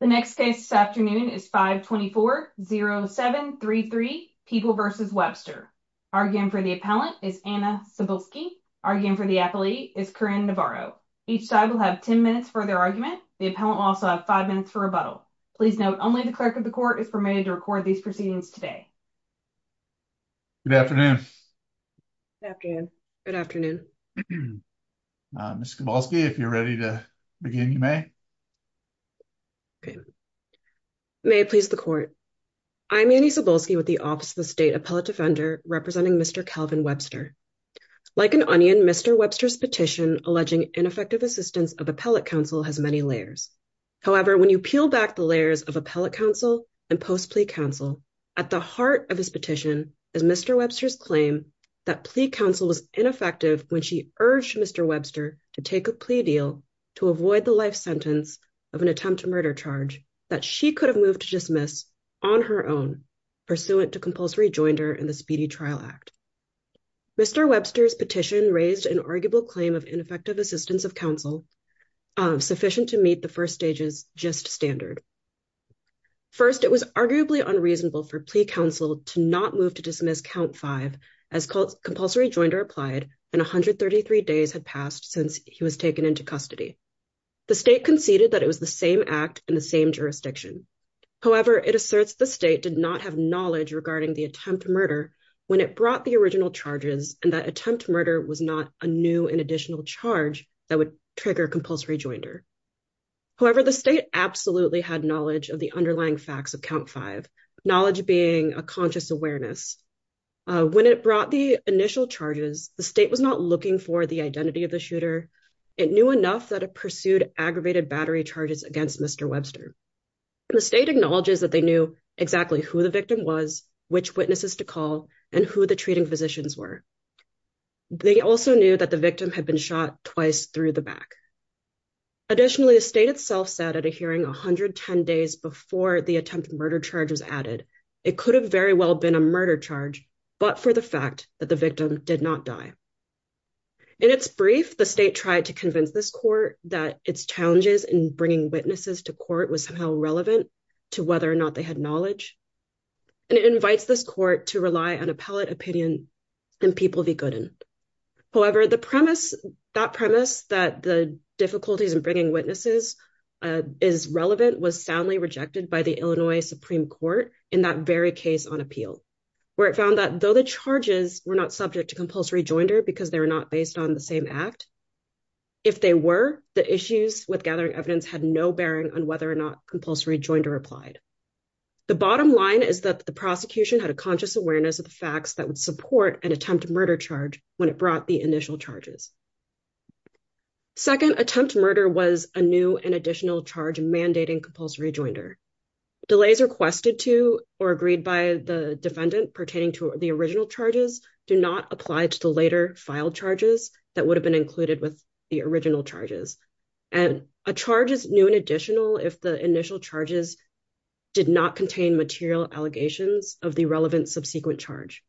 The next case this afternoon is 524-0733, People v. Webster. Arguing for the appellant is Anna Sibulski. Arguing for the appellee is Corinne Navarro. Each side will have 10 minutes for their argument. The appellant will also have five minutes for rebuttal. Please note, only the clerk of the court is permitted to record these proceedings today. Good afternoon. Good afternoon. Good afternoon. Mr. Sibulski, if you're ready to begin, you may. Okay. May it please the court. I'm Annie Sibulski with the Office of the State Appellate Defender, representing Mr. Calvin Webster. Like an onion, Mr. Webster's petition alleging ineffective assistance of appellate counsel has many layers. However, when you peel back the layers of appellate counsel and post-plea counsel, at the heart of his petition is Mr. Webster's claim that plea counsel was ineffective when she urged Mr. Webster to take a plea deal to avoid the life sentence of an attempt to murder charge that she could have moved to dismiss on her own, pursuant to compulsory joinder in the Speedy Trial Act. Mr. Webster's petition raised an arguable claim of ineffective assistance of counsel sufficient to meet the first stage's just standard. First, it was arguably unreasonable for plea counsel to not move to dismiss count five as compulsory joinder applied and 133 days had passed since he was taken into custody. The state conceded that it was the same act in the same jurisdiction. However, it asserts the state did not have knowledge regarding the attempt to murder when it brought the original charges and that attempt to murder was not a new and additional charge that would trigger compulsory joinder. However, the state absolutely had knowledge of the underlying facts of count five, knowledge being a conscious awareness. When it brought the initial charges, the state was not looking for the identity of the shooter. It knew enough that it pursued aggravated battery charges against Mr. Webster. The state acknowledges that they knew exactly who the victim was, which witnesses to call, and who the treating physicians were. They also knew that the victim had been shot twice through the back. Additionally, the state itself said at a hearing 110 days before the attempted murder charges added, it could have very well been a murder charge, but for the fact that the victim did not die. In its brief, the state tried to convince this court that its challenges in bringing witnesses to court was somehow relevant to whether or not they had knowledge. And it invites this court to rely on appellate opinion and people be good in. However, the premise, that premise that the difficulties in bringing witnesses is relevant was soundly rejected by the Illinois Supreme Court in that very case on appeal, where it found that though the charges were not subject to compulsory joinder because they were not based on the same act. If they were the issues with gathering evidence had no bearing on whether or not compulsory joined or applied. The bottom line is that the prosecution had a conscious awareness of the facts that would support an attempt to murder charge when it brought the charges. Second attempt to murder was a new and additional charge mandating compulsory joinder. Delays requested to or agreed by the defendant pertaining to the original charges do not apply to the later file charges that would have been included with the original charges. And a charge is new and additional if the initial charges did not contain material allegations of the relevant subsequent charge.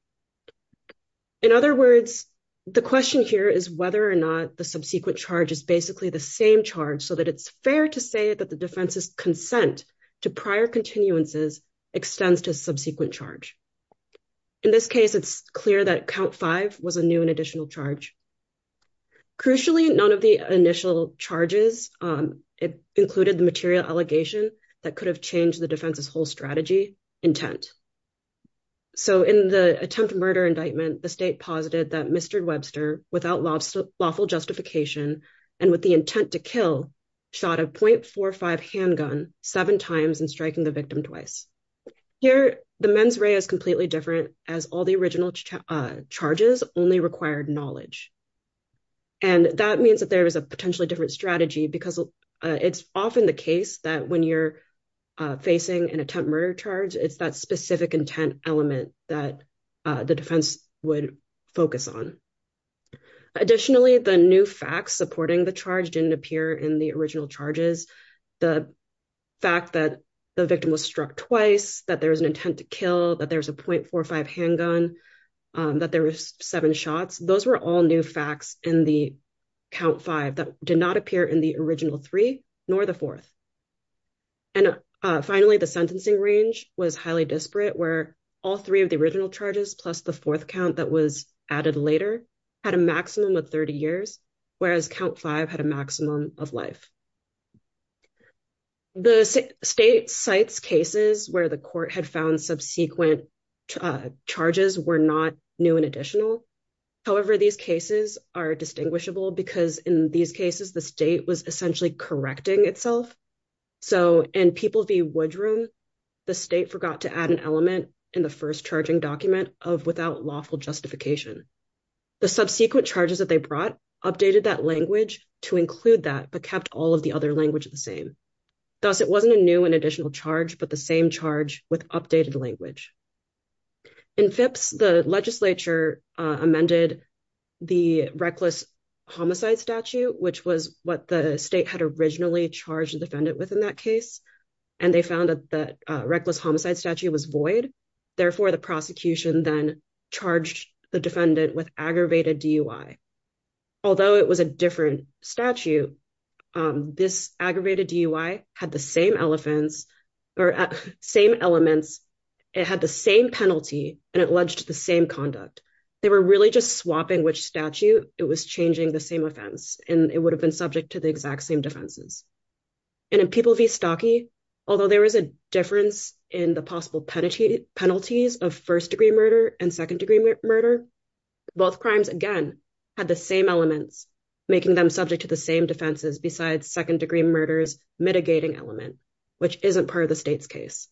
In other words, the question here is whether or not the subsequent charge is basically the same charge so that it's fair to say that the defense's consent to prior continuances extends to subsequent charge. In this case, it's clear that count five was a new and additional charge. Crucially, none of the initial charges included the material allegation that could have the defense's whole strategy intent. So in the attempt to murder indictment, the state posited that Mr. Webster, without lawful justification and with the intent to kill, shot a .45 handgun seven times and striking the victim twice. Here, the mens rea is completely different as all the original charges only required knowledge. And that means that there is a potentially different because it's often the case that when you're facing an attempt murder charge, it's that specific intent element that the defense would focus on. Additionally, the new facts supporting the charge didn't appear in the original charges. The fact that the victim was struck twice, that there was an intent to kill, that there was a .45 handgun, that there were seven shots, those were all new facts in the count five that did not appear in the original three nor the fourth. And finally, the sentencing range was highly disparate where all three of the original charges plus the fourth count that was added later had a maximum of 30 years, whereas count five had a maximum of life. The state cites cases where the court had found subsequent charges were not new and additional. However, these cases are distinguishable because in these cases, the state was essentially correcting itself. So in People v. Woodrum, the state forgot to add an element in the first charging document of without lawful justification. The subsequent charges that they brought updated that language to include that but kept all of the other language the same. Thus, it wasn't a new and additional charge, but the same charge with updated language. In Phipps, the legislature amended the reckless homicide statute, which was what the state had originally charged the defendant with in that case, and they found that the reckless homicide statute was void. Therefore, the prosecution then charged the defendant with aggravated DUI. Although it was a different statute, this aggravated DUI had the same elements. It had the same penalty, and it led to the same conduct. They were really just swapping which statute. It was changing the same offense, and it would have been subject to the exact same defenses. In People v. Stocke, although there was a difference in the possible penalties of first-degree murder and second-degree murder, both crimes, again, had the same elements, making them subject to the same defenses besides second-degree murder's mitigating element, which isn't part of the state's case.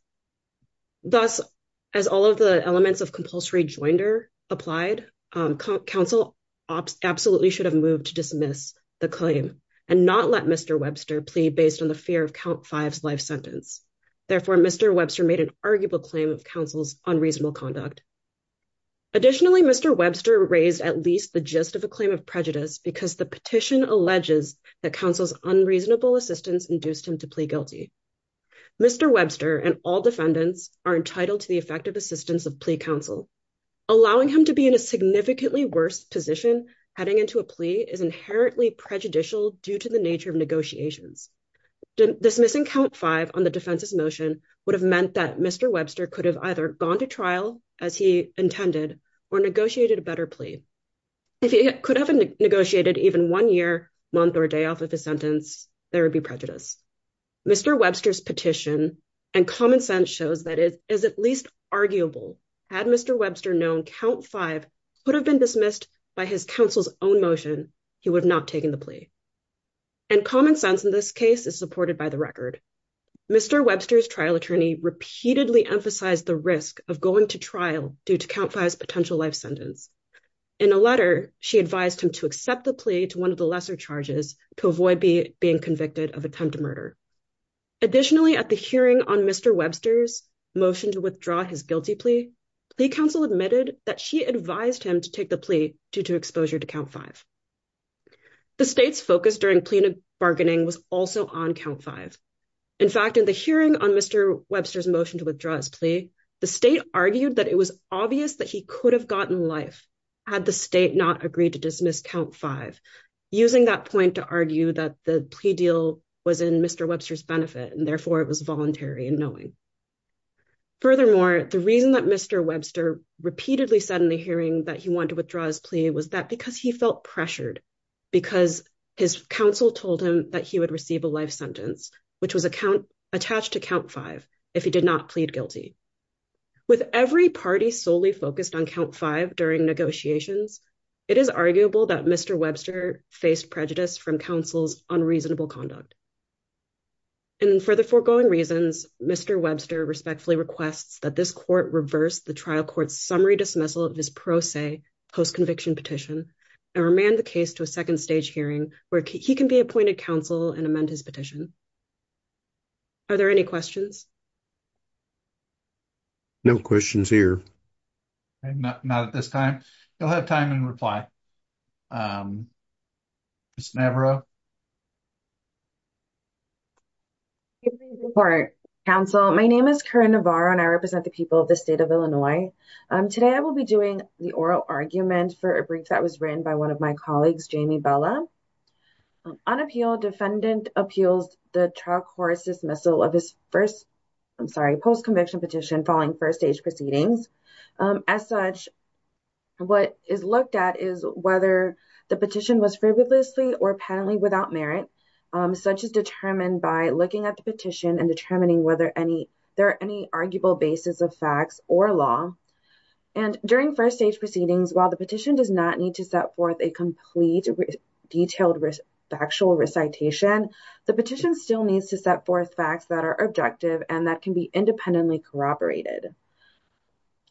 Thus, as all of the elements of compulsory joinder applied, counsel absolutely should have moved to dismiss the claim and not let Mr. Webster plead based on the fear of count five's life sentence. Therefore, Mr. Webster made an arguable claim of counsel's unreasonable conduct. Additionally, Mr. Webster raised at least the gist of a claim of prejudice because the petition alleges that counsel's unreasonable assistance induced him to plea guilty. Mr. Webster and all defendants are entitled to the effective assistance of plea counsel. Allowing him to be in a significantly worse position heading into a plea is inherently prejudicial due to the nature of negotiations. Dismissing count five on the defense's motion would have meant that Mr. Webster could have either gone to trial as he intended or negotiated a better plea. If he could have negotiated even one year, month, or day off of his sentence, there would be prejudice. Mr. Webster's petition and common sense shows that it is at least arguable. Had Mr. Webster known count five could have been dismissed by his counsel's own motion, he would have not taken the plea. And common sense in this case is supported by the record. Mr. Webster's trial attorney repeatedly emphasized the risk of going to trial due to count five's life sentence. In a letter, she advised him to accept the plea to one of the lesser charges to avoid being convicted of attempted murder. Additionally, at the hearing on Mr. Webster's motion to withdraw his guilty plea, plea counsel admitted that she advised him to take the plea due to exposure to count five. The state's focus during plea bargaining was also on count five. In fact, in the hearing on Mr. Webster's motion to withdraw his plea, the state argued that it was obvious that he could have gotten life had the state not agreed to dismiss count five, using that point to argue that the plea deal was in Mr. Webster's benefit and therefore it was voluntary in knowing. Furthermore, the reason that Mr. Webster repeatedly said in the hearing that he wanted to withdraw his plea was that because he felt pressured, because his counsel told him that he would receive a life sentence, which was attached to count five if he did not plead guilty. With every party solely focused on count five during negotiations, it is arguable that Mr. Webster faced prejudice from counsel's unreasonable conduct. And for the foregoing reasons, Mr. Webster respectfully requests that this court reverse the trial court's summary dismissal of his pro se post-conviction petition and remand the case to a second stage hearing where he can be appointed counsel and amend his petition. Are there any questions? No questions here. Not at this time. You'll have time and reply. Ms. Navarro. Counsel, my name is Karen Navarro and I represent the people of the state of Illinois. Today I will be doing the oral argument for a brief that was written by one of my colleagues, Jamie Bella. On appeal, defendant appeals the trial court's dismissal of his first, I'm sorry, post-conviction petition following first stage proceedings. As such, what is looked at is whether the petition was frivolously or penalty without merit. Such is determined by looking at the petition and determining whether there are any arguable basis of facts or law. And during first stage proceedings, while the petition does not need to set forth a complete detailed factual recitation, the petition still needs to set forth facts that are objective and that can be independently corroborated.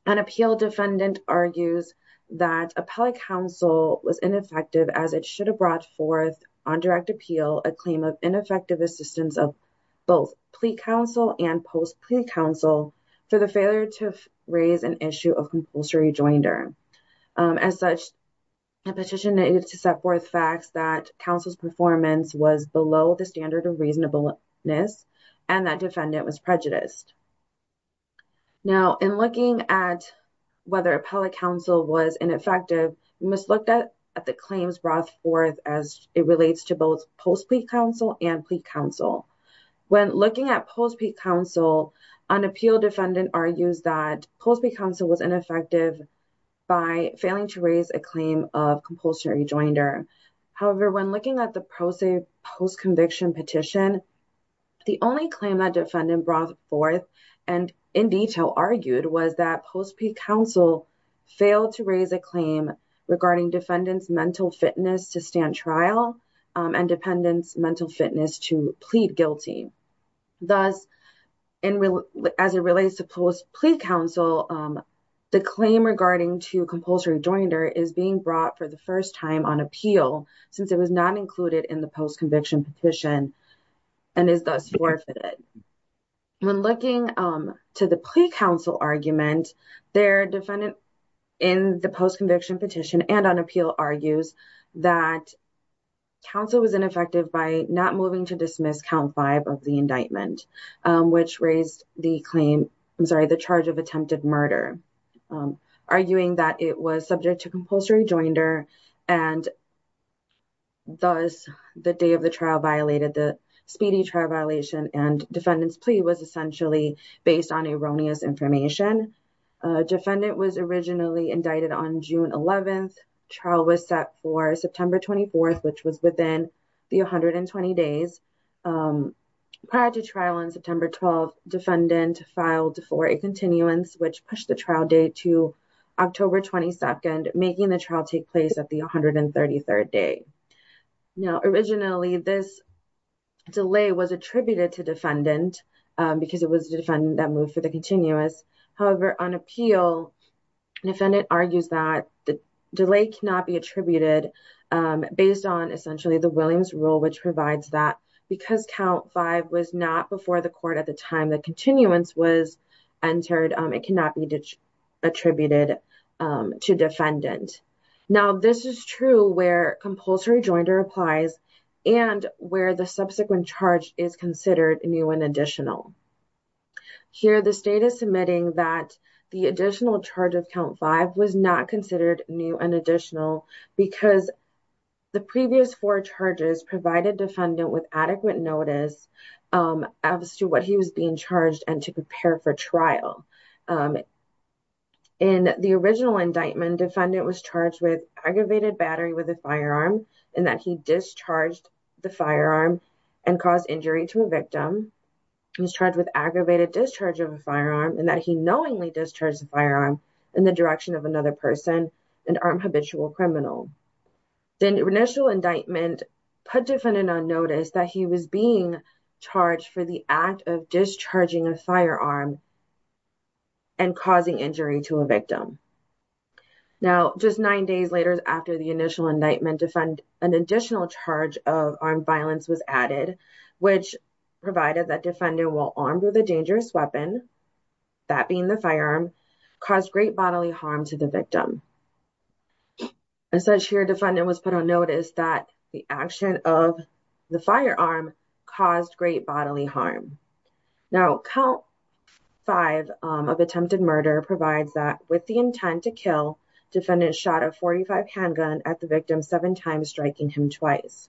An appeal defendant argues that appellate counsel was ineffective as it should have brought forth on direct appeal a claim of ineffective assistance of both plea counsel and post-plea counsel for the failure to raise an issue of compulsory rejoinder. As such, the petition needs to set forth facts that counsel's performance was below the standard of reasonableness and that defendant was prejudiced. Now, in looking at whether appellate counsel was ineffective, we must look at the claims brought forth as it relates to both post-plea counsel and plea counsel. When looking at post-plea counsel, an appeal defendant argues that post-plea counsel was ineffective by failing to raise a claim of compulsory rejoinder. However, when looking at the post-conviction petition, the only claim that defendant brought forth and in detail argued was that post-plea counsel failed to raise a claim regarding defendant's mental fitness to stand trial and defendant's mental fitness to plead guilty. Thus, as it relates to post-plea counsel, the claim regarding to compulsory rejoinder is being brought for the first time on appeal since it was not included in the post-conviction petition and is thus forfeited. When looking to the plea counsel argument, their defendant in the post-conviction petition and appeal argues that counsel was ineffective by not moving to dismiss count five of the indictment, which raised the claim, I'm sorry, the charge of attempted murder, arguing that it was subject to compulsory rejoinder and thus the day of the trial violated the speedy trial violation and defendant's plea was essentially based on erroneous information. Defendant was originally indicted on June 11th. Trial was set for September 24th, which was within the 120 days. Prior to trial on September 12th, defendant filed for a continuance, which pushed the trial date to October 22nd, making the trial take place at the 133rd day. Now, originally, this delay was attributed to defendant because it was the defendant that moved for the continuous. However, on appeal, defendant argues that the delay cannot be attributed based on essentially the Williams rule, which provides that because count five was not before the court at the time the continuance was entered, it cannot be attributed to defendant. Now, this is true where compulsory rejoinder applies and where the subsequent charge is considered new and additional. Here, the state is submitting that the additional charge of count five was not considered new and additional because the previous four charges provided defendant with adequate notice as to what he was being charged and to prepare for trial. In the original indictment, defendant was charged with aggravated battery with a firearm and that he discharged the firearm and caused injury to a victim. Now, just nine days later, after the initial indictment, an additional charge of armed violence was added, which provided that defendant will not be charged with aggravated discharge of a firearm and that he knowingly discharged the firearm in the direction of another person, an armed habitual criminal. The initial indictment put defendant on notice that he was being charged for the act of discharging a firearm and causing injury to a victim. Now, count five of attempted murder provides that with the intent to kill, defendant shot a 45 handgun at the victim seven times, striking him twice.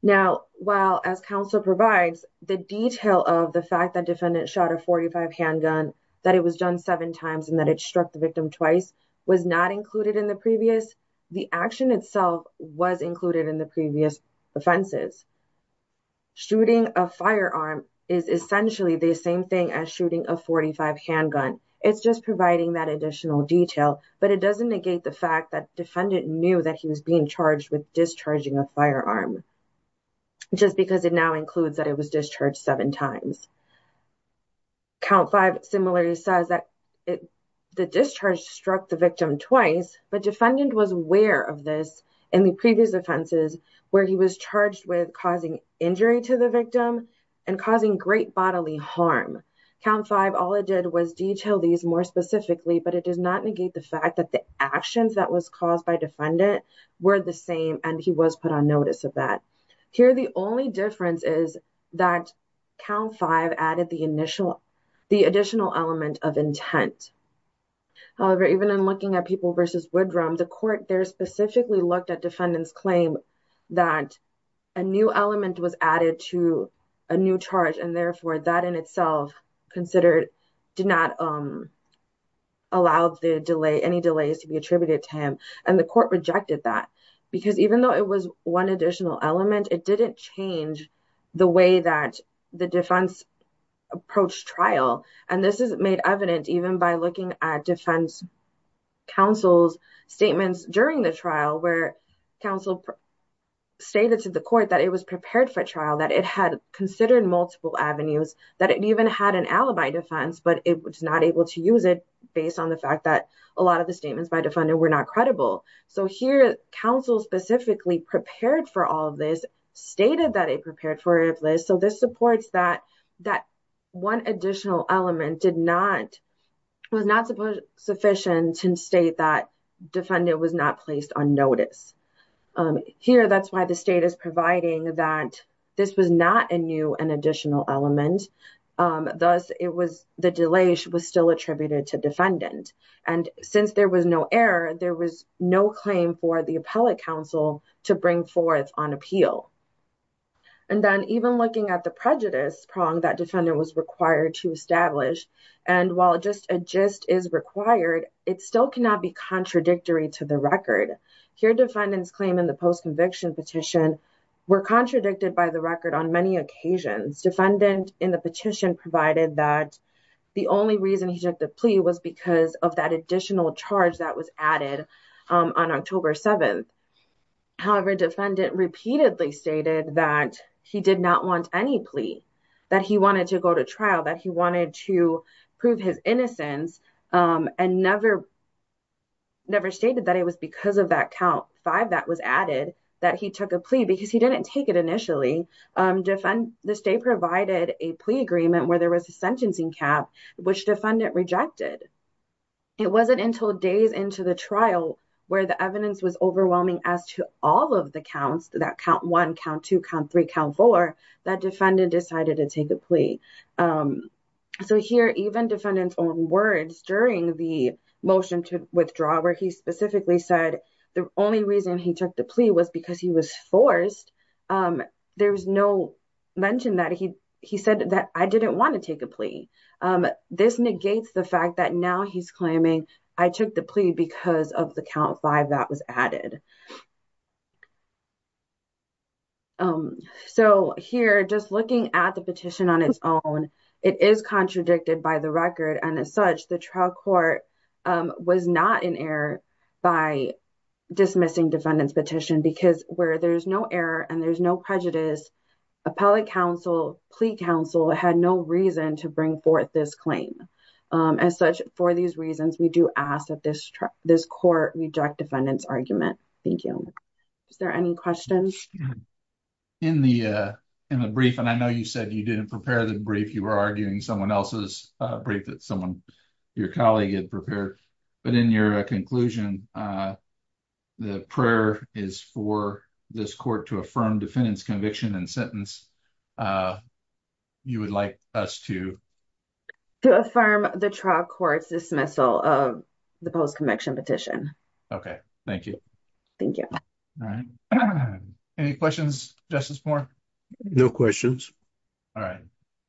Now, while as counsel provides the detail of the fact that defendant shot a 45 handgun, that it was done seven times and that it struck the victim twice was not included in the previous, the action itself was included in the previous offenses. Shooting a firearm is essentially the same thing as shooting a 45 handgun. It's just providing that additional detail, but it doesn't negate the fact that defendant knew that he was being charged with discharging a firearm, just because it now includes that it was discharged seven times. Count five similarly says that the discharge struck the victim twice, but defendant was aware of this in the previous offenses where he was charged with causing injury to the victim and causing great bodily harm. Count five, all it did was detail these more specifically, but it does not negate the fact that the actions that was caused by defendant were the same and he was put on notice of that. Here, the only difference is that count five added the initial, the additional element of intent. However, even in looking at people versus Woodrum, the court there specifically looked at defendant's claim that a new element was added to a new charge and therefore that in itself considered, did not allow the delay, any delays to be attributed to him. And the court rejected that because even though it was one additional element, it didn't change the way that the defense approached trial. And this is made evident even by looking at defense counsel's statements during the trial where counsel stated to the court that it was prepared for trial, that it had considered multiple avenues, that it even had an alibi defense, but it was not able to use it based on the fact that a lot of the statements by defendant were not credible. So here, counsel specifically prepared for all of this, stated that it prepared for this. So this supports that one additional element did not, was not sufficient to state that defendant was not placed on notice. Here, that's why the state is providing that this was not a new and additional element. Thus, it was, the delay was still attributed to defendant. And since there was no error, there was no claim for the appellate counsel to bring forth on appeal. And then even looking at the prejudice prong that defendant was required to establish, and while just a gist is required, it still cannot be contradictory to the record. Here, defendant's claim in the post-conviction petition were contradicted by the record on many occasions. Defendant in the petition provided that the only reason he took the plea was because of that additional charge that was added on October 7th. However, defendant repeatedly stated that he did not want any plea, that he wanted to go to trial, that he wanted to prove his innocence, and never, never stated that it was because of that count five that was added, that he took a plea, because he didn't take it initially. Defendant, the state provided a plea agreement where there was a sentencing cap, which defendant rejected. It wasn't until days into the trial where the evidence was overwhelming as to all of the counts, that count one, count two, count three, count four, that defendant decided to take a plea. So here, even defendant's own words during the motion to withdraw, where he specifically said the only reason he took the plea was because he was forced, there was no mention that he said that I didn't want to take a plea. This negates the fact that now he's claiming I took the plea because of the count five that was added. So here, just looking at the petition on its own, it is contradicted by the record, and as such, the trial court was not in error by dismissing defendant's petition, because where there's no error and there's no prejudice, appellate counsel, plea counsel had no reason to bring forth this claim. As such, for these reasons, we do ask that this court reject defendant's argument. Thank you. Is there any questions? In the brief, and I know you said you didn't prepare the brief, you were arguing someone else's brief that someone, your colleague had prepared, but in your conclusion, the prayer is for this court to affirm defendant's conviction and sentence. You would like us to? To affirm the trial court's dismissal of the post-conviction petition. Okay. Thank you. Thank you. Any questions, Justice Moore? No questions. All right.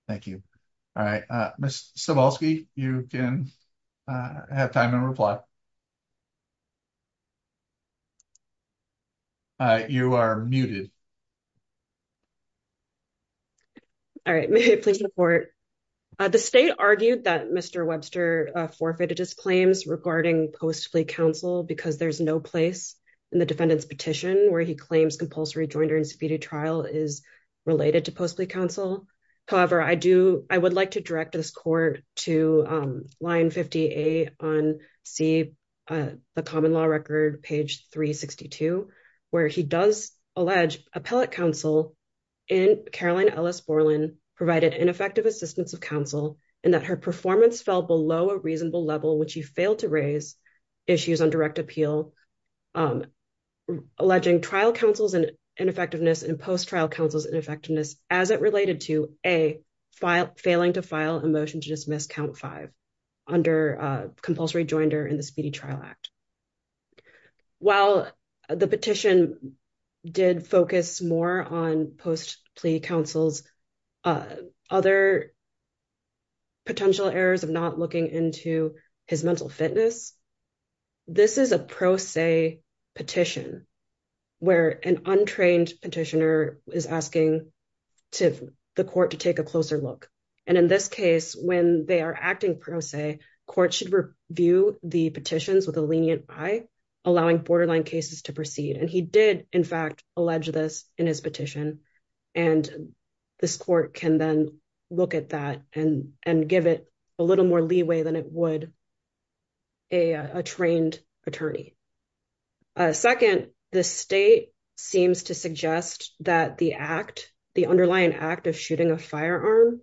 Thank you. All right. Ms. Cebulski, you can have time to reply. You are muted. All right. May I please report? The state argued that Mr. Webster forfeited his claims regarding post-plea counsel because there's no place in the defendant's petition where he claims compulsory joint or incivility trial is related to post-plea counsel. However, I would like to direct this court to line 58 on C, the common law record, page 362, where he does allege appellate counsel in Caroline Ellis Borland provided ineffective assistance of counsel and that her performance fell below a reasonable level, which he failed to raise issues on direct appeal, alleging trial counsel's ineffectiveness and post-trial counsel's ineffectiveness as it related to A, failing to file a motion to dismiss count five under compulsory joinder in the Speedy Trial Act. While the petition did focus more on post-plea counsel's other potential errors of not looking into his mental fitness, this is a pro se petition where an untrained petitioner is asking to the court to take a closer look. And in this case, when they are acting pro se, court should review the petitions with a lenient eye, allowing borderline cases to proceed. And he did, in fact, allege this in his petition. And this court can then look at that and give it a little more leeway than it would a trained attorney. Second, the state seems to suggest that the underlying act of shooting a firearm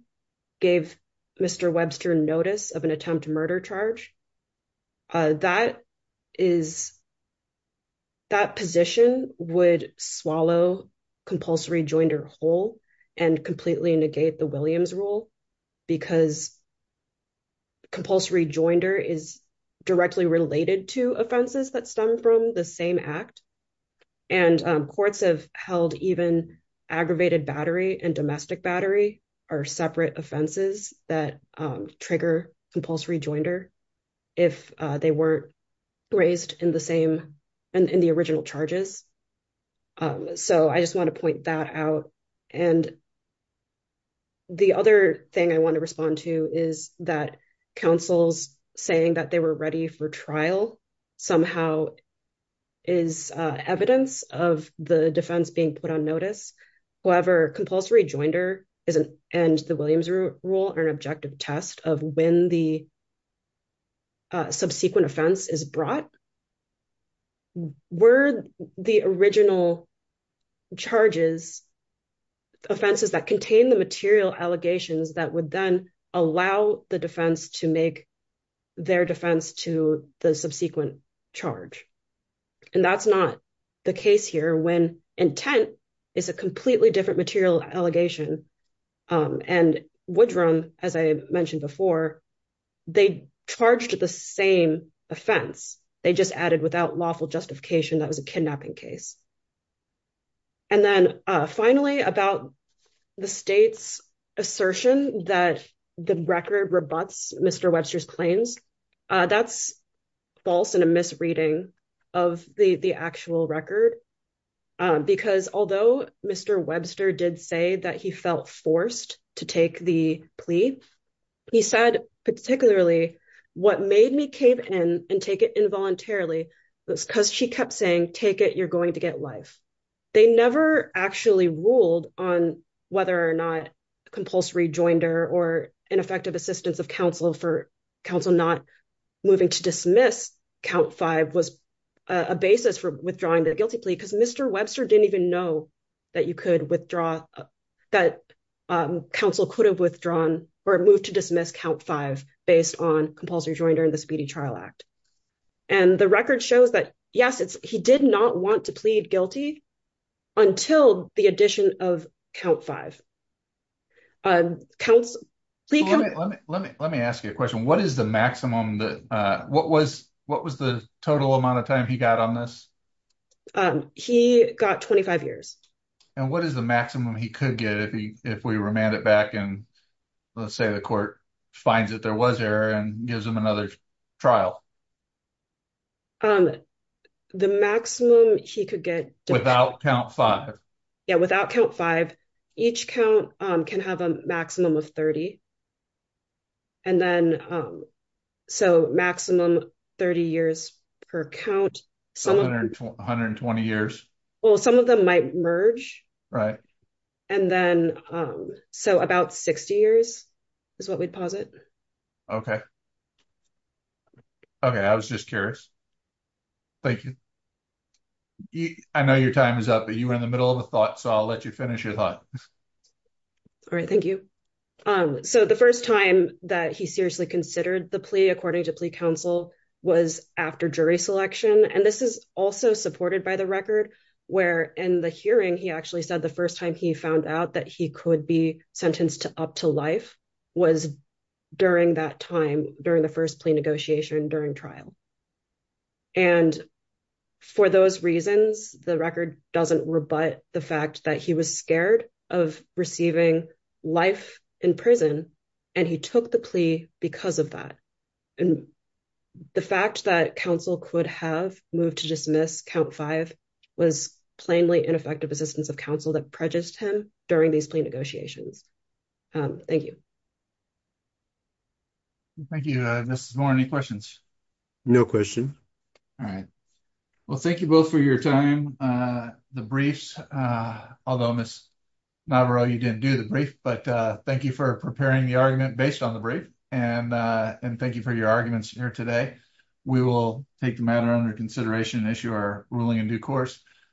gave Mr. Webster notice of an attempt murder charge. That position would swallow compulsory joinder whole and completely negate the Williams rule because compulsory joinder is directly related to offenses that stem from the same act. And courts have held even aggravated battery and domestic battery are separate offenses that trigger compulsory joinder if they weren't raised in the same and in the original charges. So I just want to point that out. And the other thing I want to respond to is that counsel's saying that they were ready for trial somehow is evidence of the defense being put on notice. However, compulsory joinder isn't and the Williams rule are an objective test of when the subsequent offense is brought. Were the original charges offenses that contain the material allegations that would then allow the defense to make their defense to the subsequent charge. And that's not the case here when intent is a completely different material allegation. And Woodrum, as I mentioned before, they charged the same offense. They just added without lawful that was a kidnapping case. And then finally about the state's assertion that the record rebuts Mr. Webster's claims, that's false and a misreading of the actual record. Because although Mr. Webster did say that he felt forced to take the plea, he said particularly what made me cave in and take it involuntarily was because she kept saying, take it, you're going to get life. They never actually ruled on whether or not compulsory joinder or ineffective assistance of counsel for counsel not moving to dismiss count five was a basis for withdrawing the guilty plea because Mr. Webster didn't even know that you could withdraw, that counsel could have withdrawn or moved to dismiss count five based on compulsory join during the speedy trial act. And the record shows that, yes, it's he did not want to plead guilty until the addition of count five. Let me ask you a question. What is the maximum, what was the total amount of time he got on this? He got 25 years. And what is the maximum he could get if we remand it back and let's say the court finds that there was error and gives him another trial? The maximum he could get. Without count five. Yeah, without count five, each count can have a maximum of 30. And then so maximum 30 years per count. 120 years. Well, some of them might merge. Right. And then so about 60 years is what we'd posit. Okay. Okay. I was just curious. Thank you. I know your time is up, but you were in the middle of a thought. So I'll let you finish your thought. All right. Thank you. So the first time that he seriously considered the plea, according to plea counsel was after jury selection. And this is also supported by the where in the hearing, he actually said the first time he found out that he could be sentenced to up to life was during that time, during the first plea negotiation during trial. And for those reasons, the record doesn't rebut the fact that he was scared of receiving life in prison. And he took the plea because of that. And the fact that counsel could have moved to was plainly ineffective assistance of counsel that prejudged him during these negotiations. Thank you. Thank you, Mrs. Moore. Any questions? No question. All right. Well, thank you both for your time. The briefs, although Miss Navarro, you didn't do the brief, but thank you for preparing the argument based on the brief. And thank you for your arguments here today. We will take the ruling in due course.